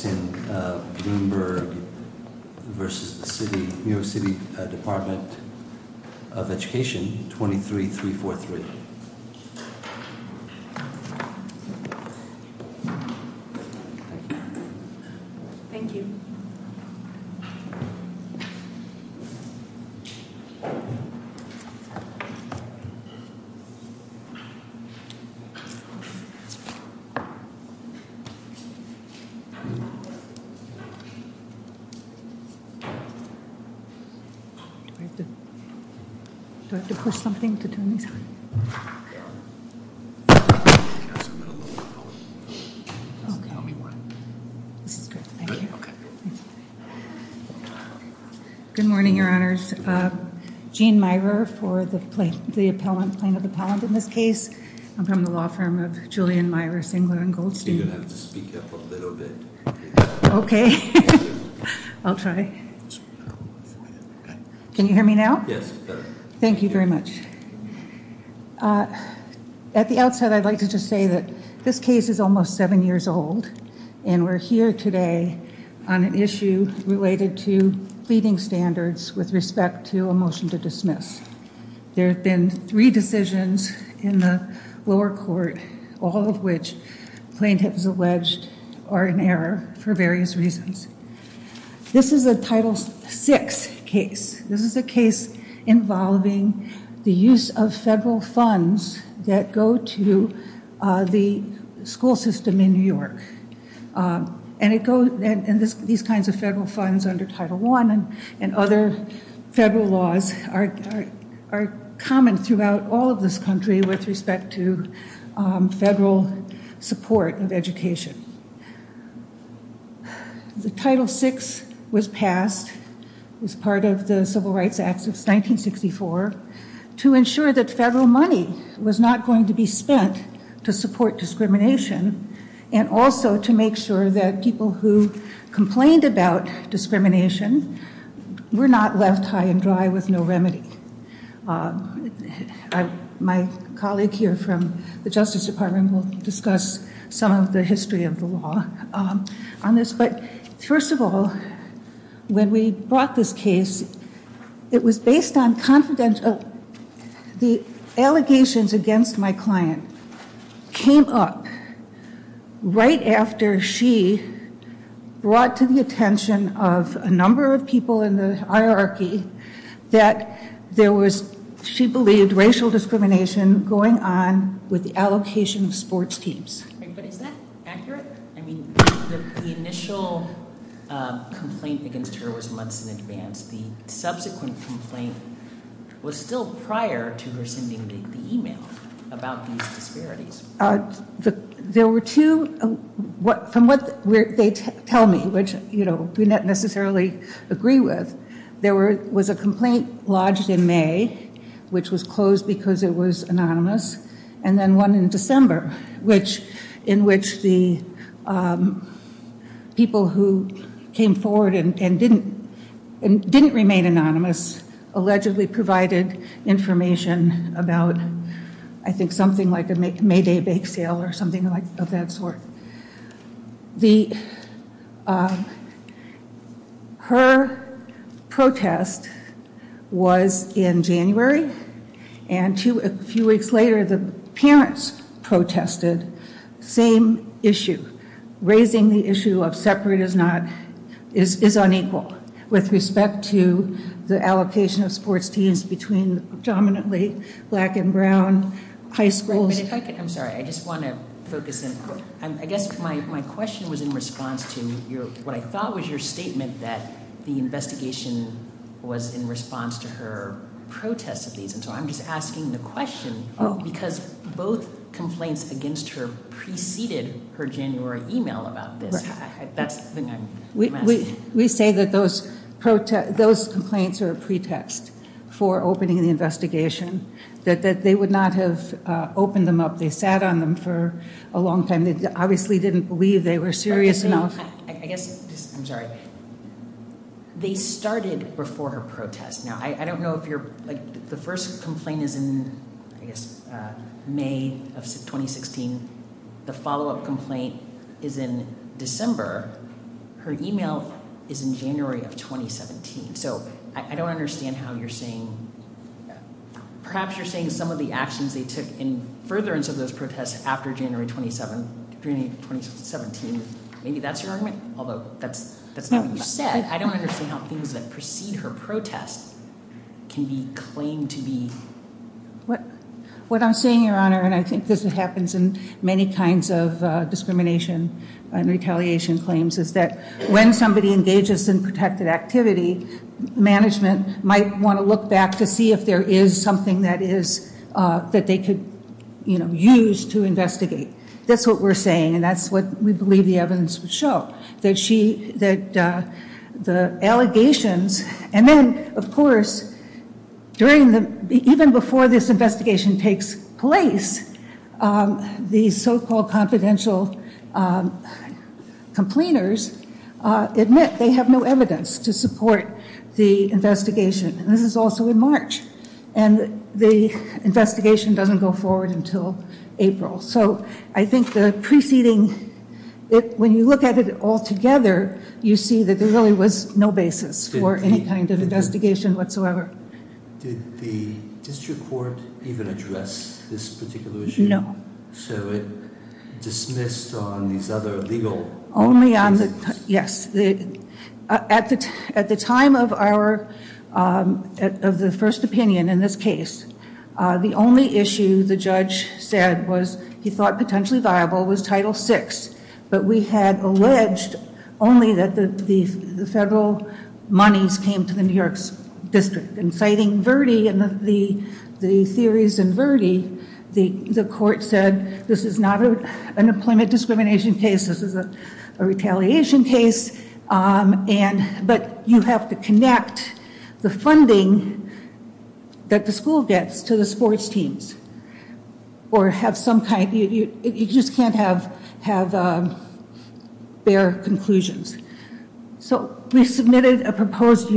23343. Thank you. Do I have to push something to turn these on? Good morning, your honors. Gene Myhre for the plaintiff appellant in this case. I'm from the law firm of Julian, Myhre, Singler & Goldstein. You're going to have to speak up a little bit. Okay, I'll try. Can you hear me now? Yes. Thank you very much. At the outset, I'd like to just say that this case is almost seven years old. And we're here today on an issue related to feeding standards with respect to a motion to dismiss. There have been three decisions in the lower court, all of which plaintiffs alleged are in error for various reasons. This is a Title VI case. This is a case involving the use of federal funds that go to the school system in New York. And these kinds of federal funds under Title I and other federal laws are common throughout all of this country with respect to federal support of education. The Title VI was passed as part of the Civil Rights Act of 1964 to ensure that federal money was not going to be spent to support discrimination and also to make sure that people who complained about discrimination were not left high and dry with no remedy. My colleague here from the Justice Department will discuss some of the history of the law on this. But first of all, when we brought this case, it was based on confidentiality. The allegations against my client came up right after she brought to the attention of a number of people in the hierarchy that there was, she believed, racial discrimination going on with the allocation of sports teams. But is that accurate? I mean, the initial complaint against her was months in advance. The subsequent complaint was still prior to her sending the email about these disparities. There were two, from what they tell me, which we don't necessarily agree with, there was a complaint lodged in May, which was closed because it was anonymous, and then one in December, in which the people who came forward and didn't remain anonymous allegedly provided information about, I think, something like a May Day bake sale or something of that sort. Her protest was in January, and a few weeks later, the parents protested. Same issue, raising the issue of separate is unequal with respect to the allocation of sports teams between dominantly black and brown high schools. I'm sorry, I just want to focus in. I guess my question was in response to what I thought was your statement that the investigation was in response to her protest of these, and so I'm just asking the question because both complaints against her preceded her January email about this. That's the thing I'm asking. We say that those complaints are a pretext for opening the investigation, that they would not have opened them up. They sat on them for a long time. They obviously didn't believe they were serious enough. I guess, I'm sorry. They started before her protest. Now, I don't know if you're, like, the first complaint is in, I guess, May of 2016. The follow-up complaint is in December. Her email is in January of 2017. So I don't understand how you're saying, perhaps you're saying some of the actions they took in furtherance of those protests after January 2017. Maybe that's your argument, although that's not what you said. I don't understand how things that precede her protest can be claimed to be. What I'm saying, Your Honor, and I think this happens in many kinds of discrimination and retaliation claims, is that when somebody engages in protected activity, management might want to look back to see if there is something that they could use to investigate. That's what we're saying, and that's what we believe the evidence would show. The allegations, and then, of course, even before this investigation takes place, the so-called confidential complainers admit they have no evidence to support the investigation. This is also in March, and the investigation doesn't go forward until April. So I think the preceding, when you look at it all together, you see that there really was no basis for any kind of investigation whatsoever. Did the district court even address this particular issue? No. So it dismissed on these other legal cases? Yes. At the time of the first opinion in this case, the only issue the judge said was he thought potentially viable was Title VI, but we had alleged only that the federal monies came to the New York District. In citing Verdi and the theories in Verdi, the court said this is not an employment discrimination case. This is a retaliation case, but you have to connect the funding that the school gets to the sports teams or have some kind. You just can't have bare conclusions. So we submitted a proposed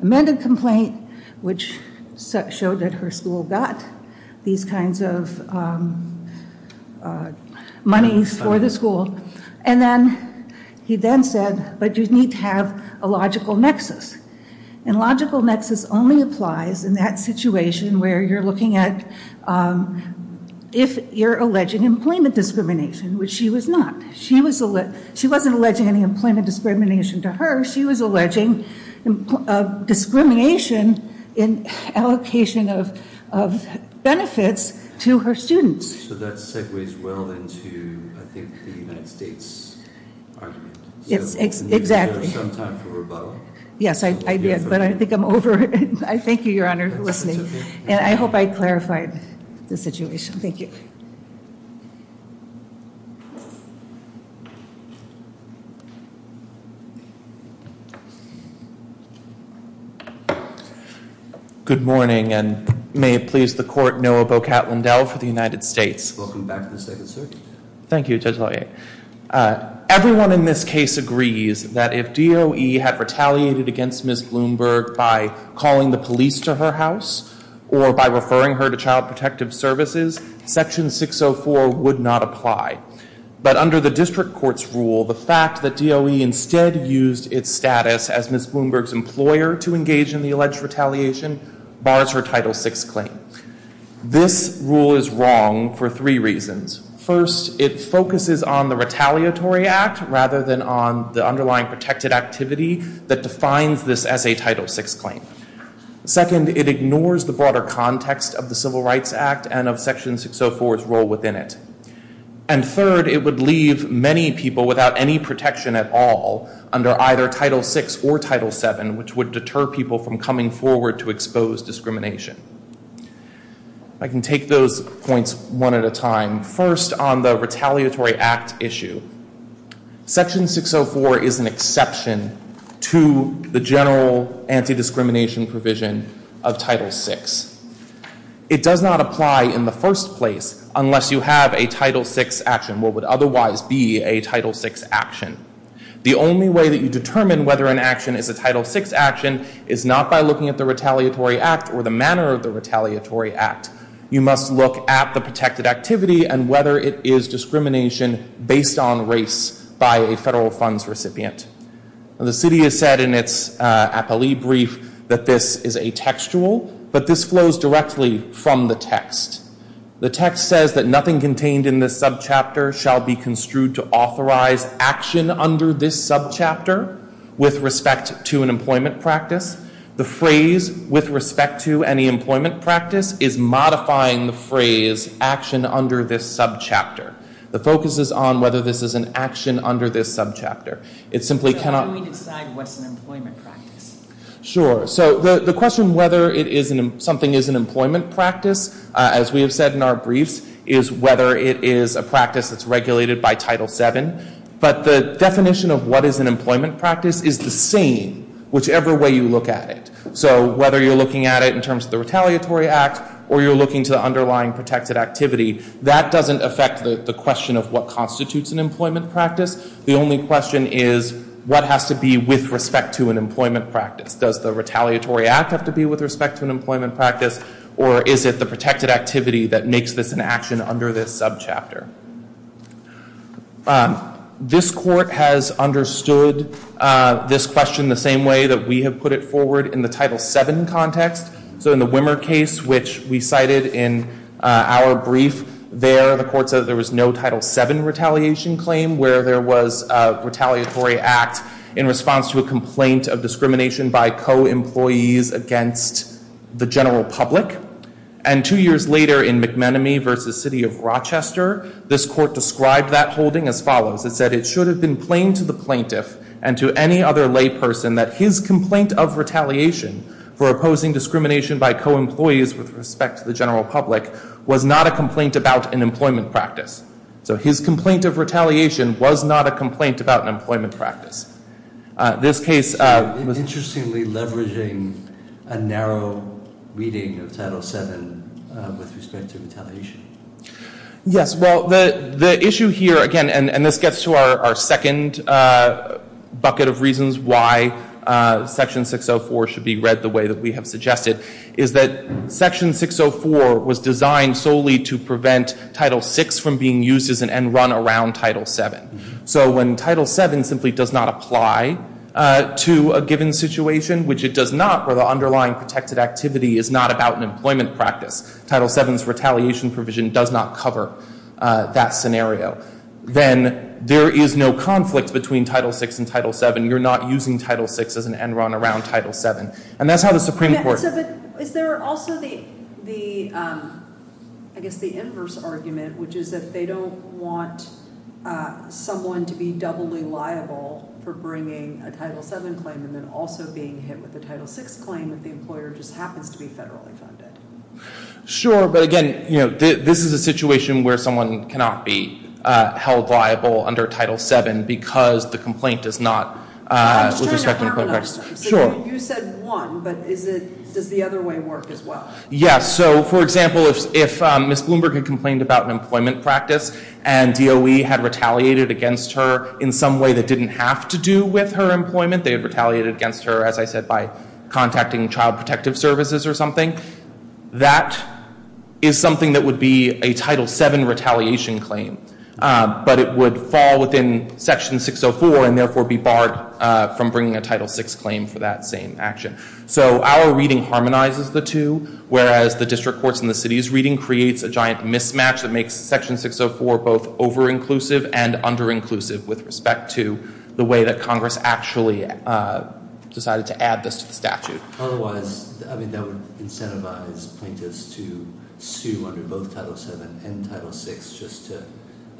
amended complaint, which showed that her school got these kinds of monies for the school, and then he then said, but you need to have a logical nexus. And logical nexus only applies in that situation where you're looking at if you're alleging employment discrimination, which she was not. She wasn't alleging any employment discrimination to her. She was alleging discrimination in allocation of benefits to her students. So that segues well into, I think, the United States argument. Exactly. Yes, I did, but I think I'm over it. I thank you, Your Honor, for listening, and I hope I clarified the situation. Thank you. Good morning, and may it please the court, Noah Bocat-Lindell for the United States. Welcome back to the State of the Circuit. Thank you, Judge Lafayette. Everyone in this case agrees that if DOE had retaliated against Ms. Bloomberg by calling the police to her house or by referring her to Child Protective Services, Section 604 would not apply. But under the district court's rule, the fact that DOE instead used its status as Ms. Bloomberg's employer to engage in the alleged retaliation bars her Title VI claim. This rule is wrong for three reasons. First, it focuses on the retaliatory act rather than on the underlying protected activity that defines this as a Title VI claim. Second, it ignores the broader context of the Civil Rights Act and of Section 604's role within it. And third, it would leave many people without any protection at all under either Title VI or Title VII, which would deter people from coming forward to expose discrimination. I can take those points one at a time. First, on the retaliatory act issue, Section 604 is an exception to the general anti-discrimination provision of Title VI. It does not apply in the first place unless you have a Title VI action, what would otherwise be a Title VI action. The only way that you determine whether an action is a Title VI action is not by looking at the retaliatory act or the manner of the retaliatory act. You must look at the protected activity and whether it is discrimination based on race by a federal funds recipient. The city has said in its appellee brief that this is a textual, but this flows directly from the text. The text says that nothing contained in this subchapter shall be construed to authorize action under this subchapter with respect to an employment practice. The phrase, with respect to any employment practice, is modifying the phrase, action under this subchapter. The focus is on whether this is an action under this subchapter. It simply cannot... So how do we decide what's an employment practice? Sure. So the question whether something is an employment practice, as we have said in our briefs, is whether it is a practice that's regulated by Title VII. But the definition of what is an employment practice is the same whichever way you look at it. So whether you're looking at it in terms of the retaliatory act or you're looking to the underlying protected activity, that doesn't affect the question of what constitutes an employment practice. The only question is what has to be with respect to an employment practice. Does the retaliatory act have to be with respect to an employment practice, or is it the protected activity that makes this an action under this subchapter? This court has understood this question the same way that we have put it forward in the Title VII context. So in the Wimmer case, which we cited in our brief there, the court said there was no Title VII retaliation claim where there was a retaliatory act in response to a complaint of discrimination by co-employees against the general public. And two years later in McManamy v. City of Rochester, this court described that holding as follows. It said it should have been plain to the plaintiff and to any other layperson that his complaint of retaliation for opposing discrimination by co-employees with respect to the general public was not a complaint about an employment practice. So his complaint of retaliation was not a complaint about an employment practice. This case was interestingly leveraging a narrow reading of Title VII with respect to retaliation. Yes. Well, the issue here, again, and this gets to our second bucket of reasons why Section 604 should be read the way that we have suggested, is that Section 604 was designed solely to prevent Title VI from being used as an end run around Title VII. So when Title VII simply does not apply to a given situation, which it does not where the underlying protected activity is not about an employment practice, Title VII's retaliation provision does not cover that scenario, then there is no conflict between Title VI and Title VII. You're not using Title VI as an end run around Title VII. But is there also the, I guess, the inverse argument, which is that they don't want someone to be doubly liable for bringing a Title VII claim and then also being hit with a Title VI claim if the employer just happens to be federally funded? Sure. But again, this is a situation where someone cannot be held liable under Title VII because the complaint is not with respect to an employment practice. Sure. So you said one, but does the other way work as well? Yes. So, for example, if Ms. Bloomberg had complained about an employment practice and DOE had retaliated against her in some way that didn't have to do with her employment, they had retaliated against her, as I said, by contacting Child Protective Services or something, that is something that would be a Title VII retaliation claim. But it would fall within Section 604 and therefore be barred from bringing a Title VI claim for that same action. So our reading harmonizes the two, whereas the district courts and the city's reading creates a giant mismatch that makes Section 604 both over-inclusive and under-inclusive with respect to the way that Congress actually decided to add this to the statute. Otherwise, I mean, that would incentivize plaintiffs to sue under both Title VII and Title VI just to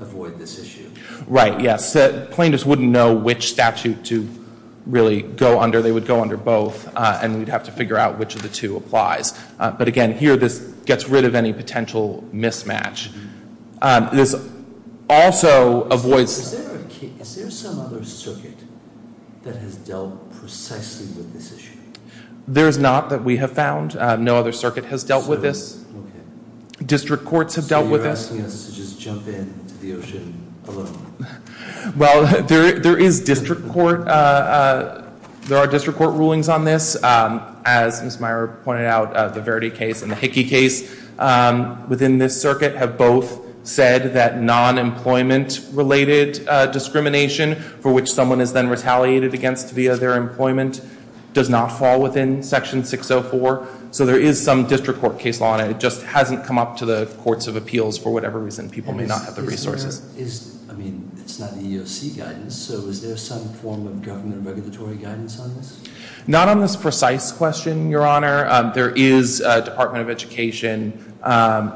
avoid this issue. Right, yes. Plaintiffs wouldn't know which statute to really go under. They would go under both, and we'd have to figure out which of the two applies. But again, here this gets rid of any potential mismatch. Is there some other circuit that has dealt precisely with this issue? There is not that we have found. No other circuit has dealt with this. District courts have dealt with this. So you're asking us to just jump into the ocean alone? Well, there is district court. There are district court rulings on this. As Ms. Meyer pointed out, the Verdi case and the Hickey case within this circuit have both said that non-employment-related discrimination for which someone is then retaliated against via their employment does not fall within Section 604. So there is some district court case law on it. It just hasn't come up to the courts of appeals for whatever reason. People may not have the resources. I mean, it's not the EEOC guidance. So is there some form of government regulatory guidance on this? Not on this precise question, Your Honor. There is a Department of Education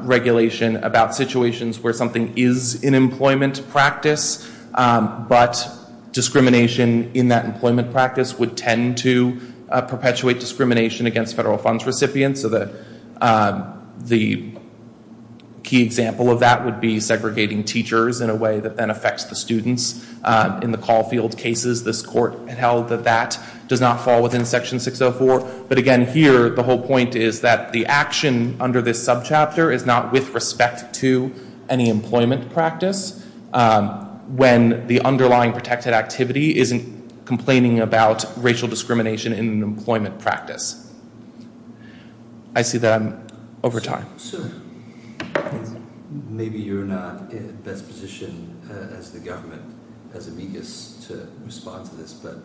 regulation about situations where something is in employment practice. But discrimination in that employment practice would tend to perpetuate discrimination against federal funds recipients. So the key example of that would be segregating teachers in a way that then affects the students. In the Caulfield cases, this court held that that does not fall within Section 604. But again, here, the whole point is that the action under this subchapter is not with respect to any employment practice when the underlying protected activity isn't complaining about racial discrimination in an employment practice. I see that I'm over time. So maybe you're not in the best position as the government, as amicus, to respond to this. But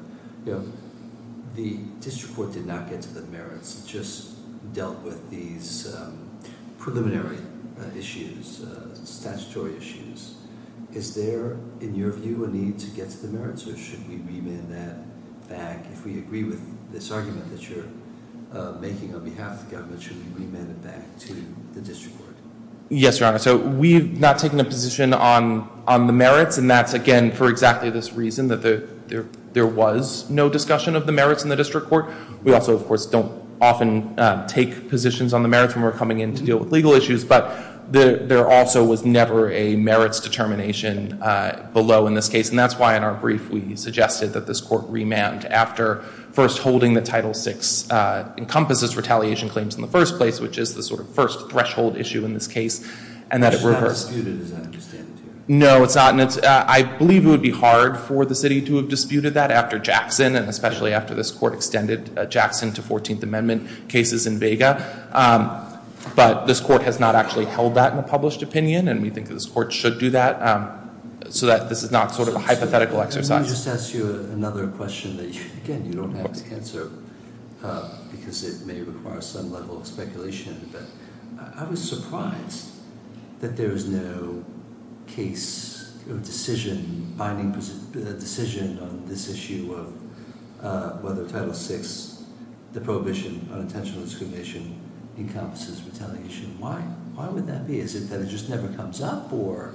the district court did not get to the merits. It just dealt with these preliminary issues, statutory issues. Is there, in your view, a need to get to the merits? Or should we remand that back? If we agree with this argument that you're making on behalf of the government, should we remand it back to the district court? Yes, Your Honor. So we've not taken a position on the merits. And that's, again, for exactly this reason, that there was no discussion of the merits in the district court. We also, of course, don't often take positions on the merits when we're coming in to deal with legal issues. But there also was never a merits determination below in this case. And that's why, in our brief, we suggested that this court remand after first holding that Title VI encompasses retaliation claims in the first place, which is the sort of first threshold issue in this case, and that it reversed. It's not disputed, as I understand it. No, it's not. And I believe it would be hard for the city to have disputed that after Jackson, and especially after this court extended Jackson to 14th Amendment cases in Vega. But this court has not actually held that in a published opinion. And we think that this court should do that so that this is not sort of a hypothetical exercise. Let me just ask you another question that, again, you don't have to answer because it may require some level of speculation. But I was surprised that there is no case or decision, binding decision, on this issue of whether Title VI, the prohibition on intentional discrimination, encompasses retaliation. Why would that be? Is it that it just never comes up, or?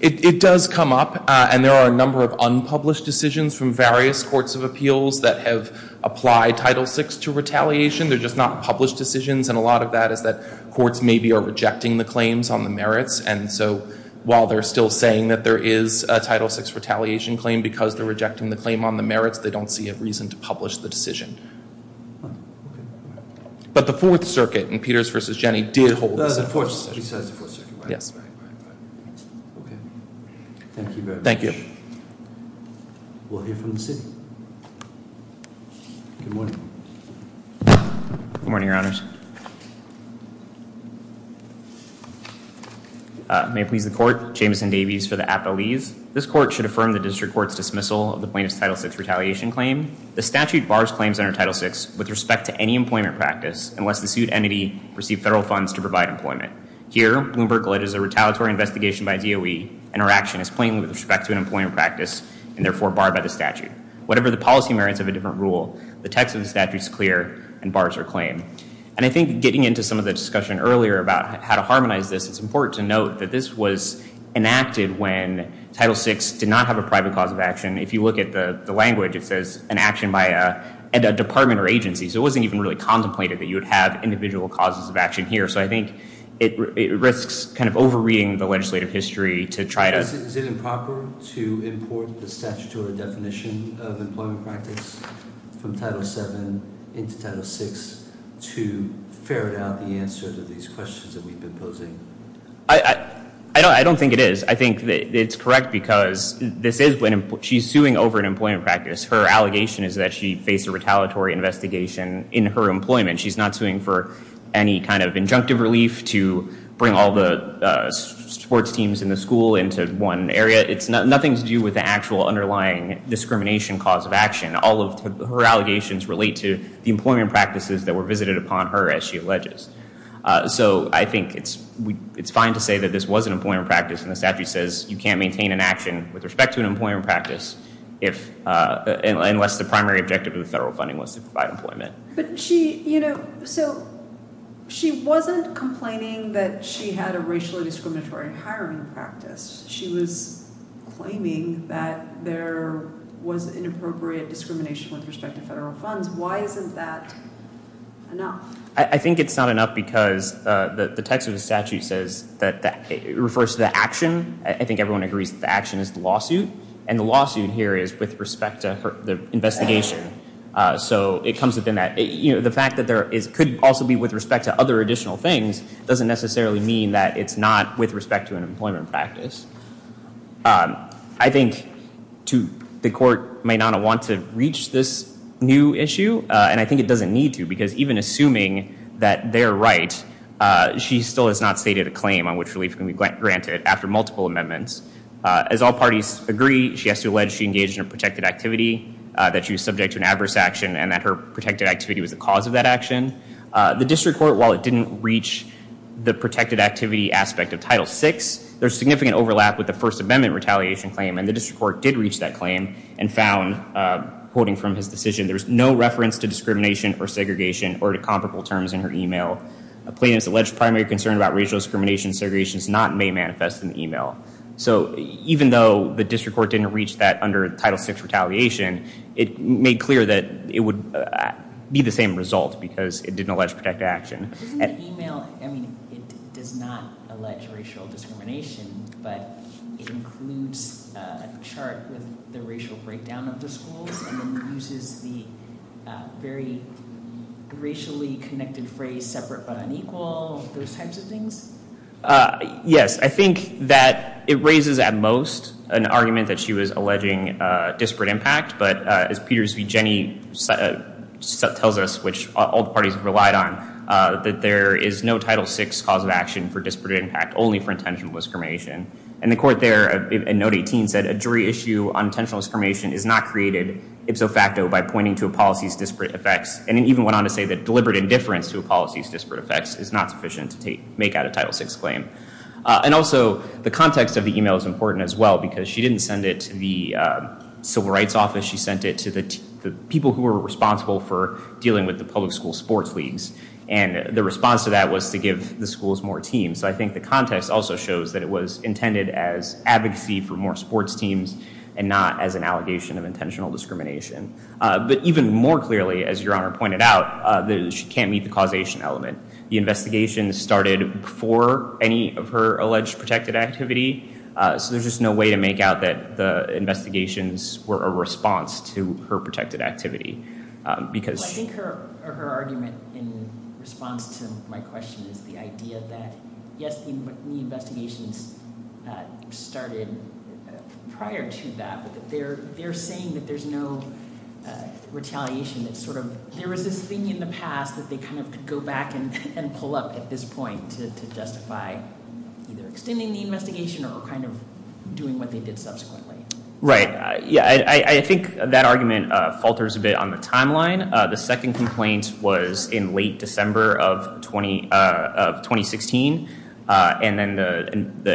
It does come up. And there are a number of unpublished decisions from various courts of appeals that have applied Title VI to retaliation. They're just not published decisions. And a lot of that is that courts maybe are rejecting the claims on the merits. And so while they're still saying that there is a Title VI retaliation claim because they're rejecting the claim on the merits, they don't see a reason to publish the decision. But the Fourth Circuit in Peters v. Jenny did hold the same position. He says the Fourth Circuit. Yes. Right, right, right. Okay. Thank you very much. Thank you. We'll hear from the city. Good morning. Good morning, Your Honors. May it please the Court. Jameson Davies for the appellees. This court should affirm the district court's dismissal of the plaintiff's Title VI retaliation claim. The statute bars claims under Title VI with respect to any employment practice unless the sued entity received federal funds to provide employment. Here, Bloomberg lit as a retaliatory investigation by DOE, and our action is plainly with respect to an employment practice and therefore barred by the statute. Whatever the policy merits of a different rule, the text of the statute is clear and bars our claim. And I think getting into some of the discussion earlier about how to harmonize this, it's important to note that this was enacted when Title VI did not have a private cause of action. If you look at the language, it says an action by a department or agency. So it wasn't even really contemplated that you would have individual causes of action here. So I think it risks kind of over-reading the legislative history to try to – Is it improper to import the statutory definition of employment practice from Title VII into Title VI to ferret out the answer to these questions that we've been posing? I don't think it is. I think it's correct because this is when she's suing over an employment practice. Her allegation is that she faced a retaliatory investigation in her employment. She's not suing for any kind of injunctive relief to bring all the sports teams in the school into one area. It's nothing to do with the actual underlying discrimination cause of action. All of her allegations relate to the employment practices that were visited upon her, as she alleges. So I think it's fine to say that this was an employment practice. And the statute says you can't maintain an action with respect to an employment practice unless the primary objective of the federal funding was to provide employment. So she wasn't complaining that she had a racially discriminatory hiring practice. She was claiming that there was inappropriate discrimination with respect to federal funds. Why isn't that enough? I think it's not enough because the text of the statute says that it refers to the action. I think everyone agrees that the action is the lawsuit, and the lawsuit here is with respect to the investigation. So it comes within that. The fact that there could also be with respect to other additional things doesn't necessarily mean that it's not with respect to an employment practice. I think the court might not want to reach this new issue, and I think it doesn't need to because even assuming that they're right, she still has not stated a claim on which relief can be granted after multiple amendments. As all parties agree, she has to allege she engaged in a protected activity, that she was subject to an adverse action, and that her protected activity was the cause of that action. The district court, while it didn't reach the protected activity aspect of Title VI, there's significant overlap with the First Amendment retaliation claim, and the district court did reach that claim and found, quoting from his decision, there's no reference to discrimination or segregation or to comparable terms in her email. A plaintiff's alleged primary concern about racial discrimination and segregation is not and may manifest in the email. So even though the district court didn't reach that under Title VI retaliation, it made clear that it would be the same result because it didn't allege protected action. Isn't the email, I mean it does not allege racial discrimination, but it includes a chart with the racial breakdown of the schools and uses the very racially connected phrase separate but unequal, those types of things? Yes, I think that it raises at most an argument that she was alleging disparate impact, but as Peters v. Jenny tells us, which all parties have relied on, that there is no Title VI cause of action for disparate impact, only for intentional discrimination. And the court there in Note 18 said, a jury issue on intentional discrimination is not created ipso facto by pointing to a policy's disparate effects. And it even went on to say that deliberate indifference to a policy's disparate effects is not sufficient to make out a Title VI claim. And also the context of the email is important as well because she didn't send it to the Civil Rights Office. She sent it to the people who were responsible for dealing with the public school sports leagues, and the response to that was to give the schools more teams. So I think the context also shows that it was intended as advocacy for more sports teams and not as an allegation of intentional discrimination. But even more clearly, as Your Honor pointed out, she can't meet the causation element. The investigation started before any of her alleged protected activity, so there's just no way to make out that the investigations were a response to her protected activity. I think her argument in response to my question is the idea that, yes, the investigations started prior to that, but they're saying that there's no retaliation. There was this thing in the past that they could go back and pull up at this point to justify either extending the investigation or doing what they did subsequently. Right. I think that argument falters a bit on the timeline. The second complaint was in late December of 2016, and then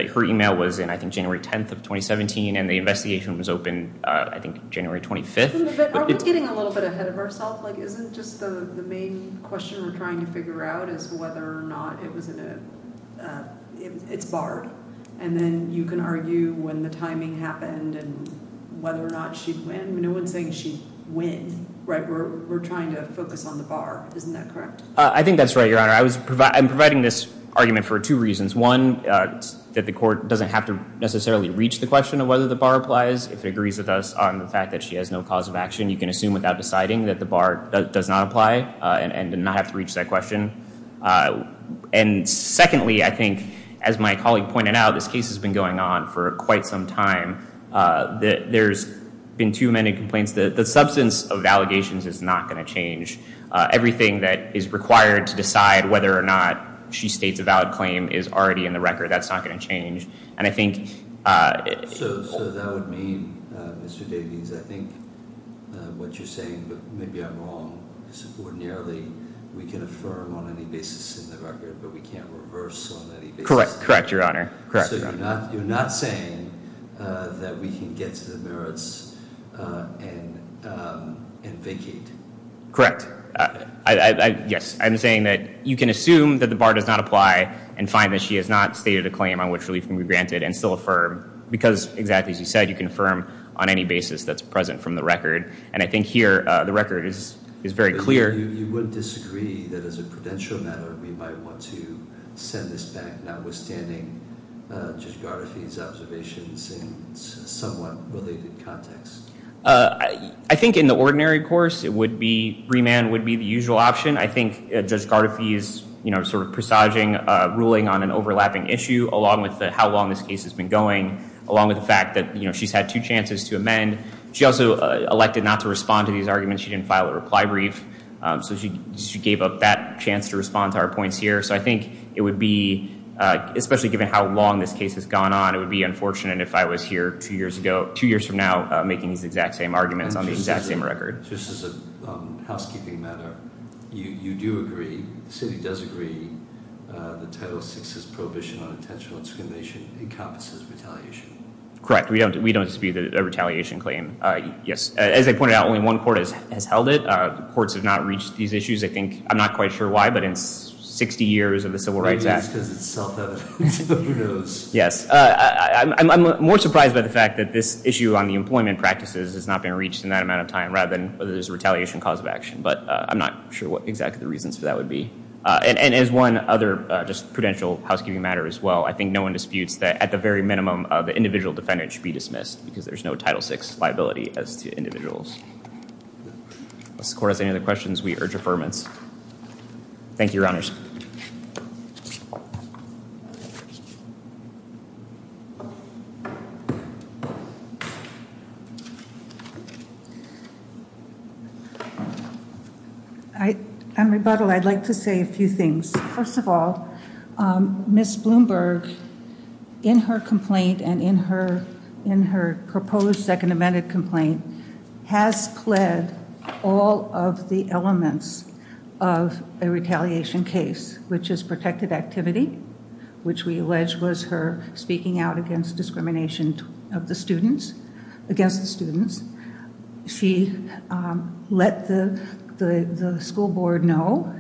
her email was in, I think, January 10th of 2017, and the investigation was open, I think, January 25th. Are we getting a little bit ahead of ourselves? Isn't just the main question we're trying to figure out is whether or not it's barred, and then you can argue when the timing happened and whether or not she'd win. No one's saying she'd win. We're trying to focus on the bar. Isn't that correct? I think that's right, Your Honor. I'm providing this argument for two reasons. One, that the court doesn't have to necessarily reach the question of whether the bar applies. If it agrees with us on the fact that she has no cause of action, you can assume without deciding that the bar does not apply and not have to reach that question. And secondly, I think, as my colleague pointed out, this case has been going on for quite some time. There's been too many complaints. The substance of allegations is not going to change. Everything that is required to decide whether or not she states a valid claim is already in the record. That's not going to change. So that would mean, Mr. Davies, I think what you're saying, but maybe I'm wrong, is ordinarily we can affirm on any basis in the record, but we can't reverse on any basis. Correct, Your Honor. So you're not saying that we can get to the merits and vacate? Correct. Yes, I'm saying that you can assume that the bar does not apply and find that she has not stated a claim on which relief can be granted and still affirm, because, exactly as you said, you can affirm on any basis that's present from the record. And I think here the record is very clear. You wouldn't disagree that, as a prudential matter, we might want to send this back notwithstanding Judge Gardafi's observations in a somewhat related context? I think in the ordinary course, it would be, remand would be the usual option. I think Judge Gardafi is sort of presaging a ruling on an overlapping issue, along with how long this case has been going, along with the fact that she's had two chances to amend. She also elected not to respond to these arguments. She didn't file a reply brief. So she gave up that chance to respond to our points here. So I think it would be, especially given how long this case has gone on, it would be unfortunate if I was here two years from now making these exact same arguments on the exact same record. Just as a housekeeping matter, you do agree, the city does agree, that Title VI's prohibition on intentional discrimination encompasses retaliation. Correct. We don't dispute a retaliation claim. Yes. As I pointed out, only one court has held it. Courts have not reached these issues. I'm not quite sure why, but in 60 years of the Civil Rights Act. Maybe it's because it's self-evident. Who knows? Yes. I'm more surprised by the fact that this issue on the employment practices has not been reached in that amount of time, rather than whether there's a retaliation cause of action. But I'm not sure what exactly the reasons for that would be. And as one other just prudential housekeeping matter as well, I think no one disputes that at the very minimum of the individual defendant should be dismissed, because there's no Title VI liability as to individuals. Does the court have any other questions? We urge affirmance. Thank you, Your Honors. I'm rebuttal. I'd like to say a few things. First of all, Ms. Bloomberg, in her complaint and in her proposed second amended complaint, has pled all of the elements of a retaliation case, which is protected activity, which we allege was her speaking out against discrimination of the students, against the students. She let the school board know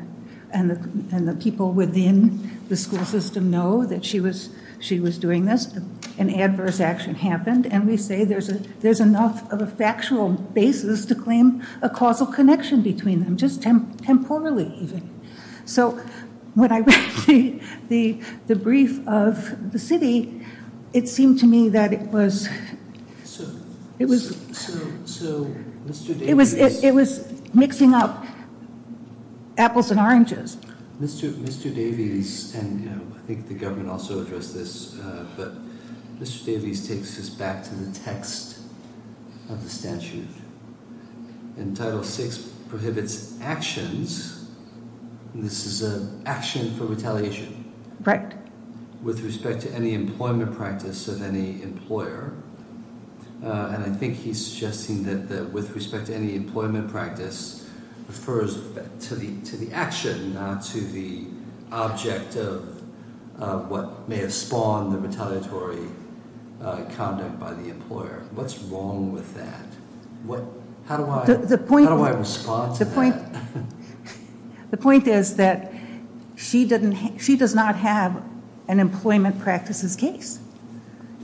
and the people within the school system know that she was doing this. An adverse action happened. And we say there's enough of a factual basis to claim a causal connection between them, just temporally even. So when I read the brief of the city, it seemed to me that it was mixing up apples and oranges. Mr. Davies, and I think the government also addressed this, but Mr. Davies takes us back to the text of the statute. And Title VI prohibits actions. This is an action for retaliation. Right. With respect to any employment practice of any employer. And I think he's suggesting that with respect to any employment practice, refers to the action, not to the object of what may have spawned the retaliatory conduct by the employer. What's wrong with that? How do I respond to that? The point is that she does not have an employment practices case.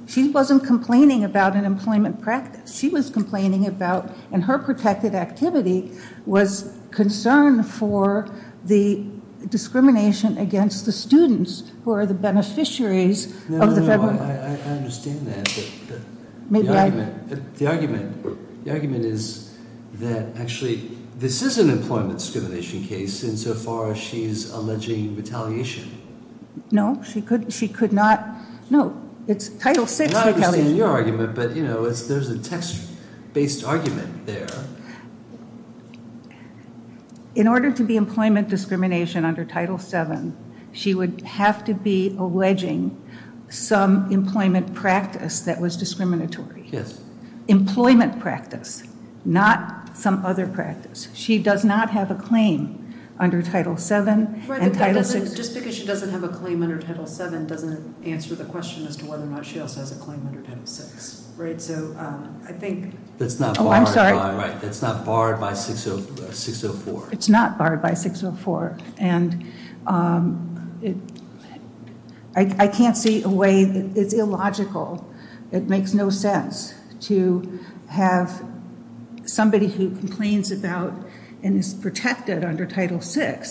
She wasn't complaining about an employment practice. She was complaining about, and her protected activity was concerned for the discrimination against the students, who are the beneficiaries of the federal. No, no, no. I understand that. The argument is that actually this is an employment discrimination case, and so far she's alleging retaliation. No, she could not. No, it's Title VI retaliation. I understand your argument, but there's a text-based argument there. In order to be employment discrimination under Title VII, she would have to be alleging some employment practice that was discriminatory. Yes. Employment practice, not some other practice. She does not have a claim under Title VII and Title VI. Just because she doesn't have a claim under Title VII doesn't answer the question as to whether or not she also has a claim under Title VI. Right? That's not barred by 604. It's not barred by 604, and I can't see a way. It's illogical. It makes no sense to have somebody who complains about and is protected under Title VI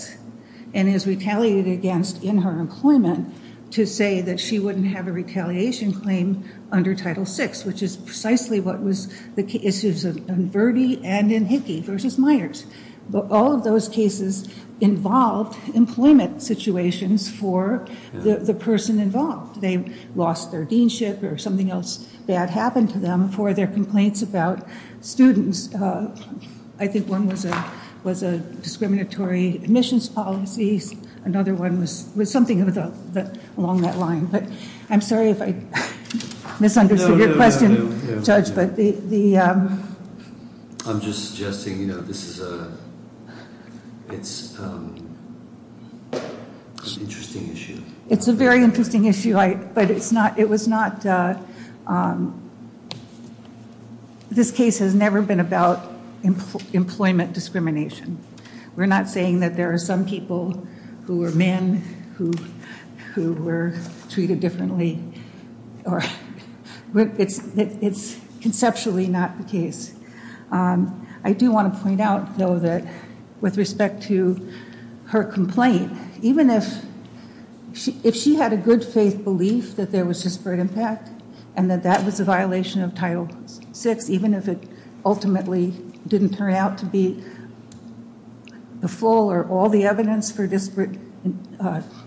and is retaliated against in her employment to say that she wouldn't have a retaliation claim under Title VI, which is precisely what was the issues in Verde and in Hickey versus Myers. All of those cases involved employment situations for the person involved. They lost their deanship or something else bad happened to them for their complaints about students. I think one was a discriminatory admissions policy. Another one was something along that line, but I'm sorry if I misunderstood your question. I'm just suggesting this is an interesting issue. It's a very interesting issue, but this case has never been about employment discrimination. We're not saying that there are some people who are men who were treated differently. It's conceptually not the case. I do want to point out, though, that with respect to her complaint, even if she had a good faith belief that there was disparate impact and that that was a violation of Title VI, even if it ultimately didn't turn out to be the full or all the evidence for disparate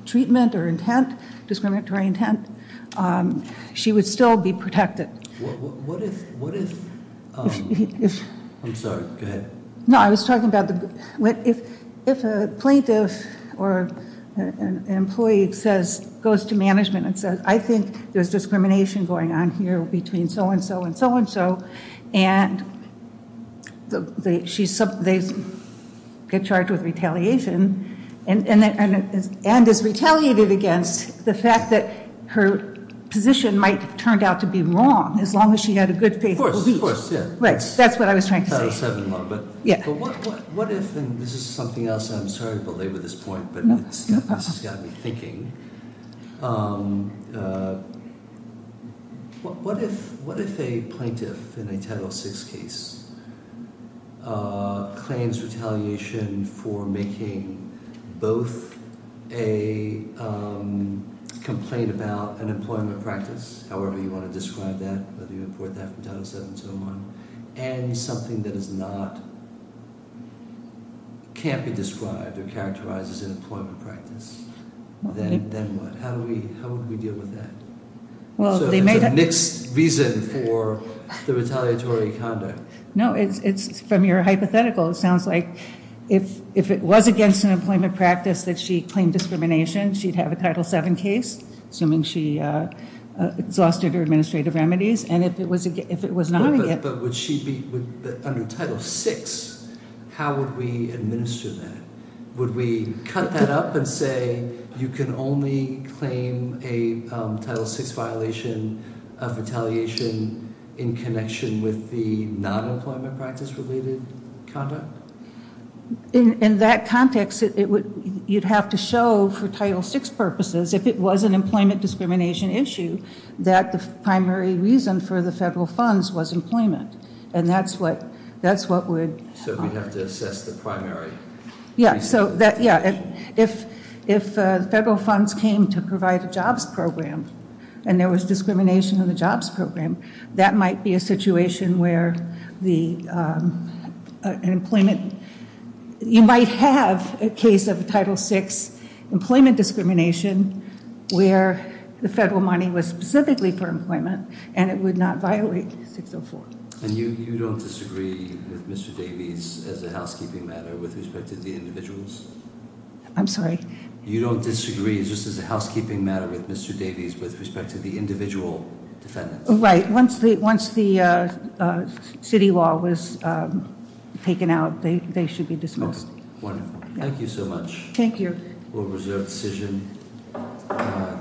treatment or intent, discriminatory intent, she would still be protected. What if... I'm sorry. Go ahead. No, I was talking about if a plaintiff or an employee goes to management and says, I think there's discrimination going on here between so-and-so and so-and-so, and they get charged with retaliation and is retaliated against the fact that her position might have turned out to be wrong, as long as she had a good faith belief. Of course. That's what I was trying to say. But what if, and this is something else, and I'm sorry to belabor this point, but this has got me thinking. What if a plaintiff in a Title VI case claims retaliation for making both a complaint about an employment practice, however you want to describe that, whether you report that from Title VII to O-1, and something that is not, can't be described or characterized as an employment practice, then what? How would we deal with that? So there's a mixed reason for the retaliatory conduct. No, it's from your hypothetical. It sounds like if it was against an employment practice that she claimed discrimination, she'd have a Title VII case, assuming she exhausted her administrative remedies. And if it was not against- But would she be, under Title VI, how would we administer that? Would we cut that up and say you can only claim a Title VI violation of retaliation in connection with the non-employment practice-related conduct? In that context, you'd have to show for Title VI purposes, if it was an employment discrimination issue, that the primary reason for the federal funds was employment. And that's what would- So we'd have to assess the primary- Yeah. If federal funds came to provide a jobs program, and there was discrimination in the jobs program, that might be a situation where the employment- You might have a case of a Title VI employment discrimination where the federal money was specifically for employment, and it would not violate 604. And you don't disagree with Mr. Davies as a housekeeping matter with respect to the individuals? I'm sorry? You don't disagree just as a housekeeping matter with Mr. Davies with respect to the individual defendants? Right. Once the city law was taken out, they should be dismissed. Wonderful. Thank you so much. Thank you. We'll reserve the decision.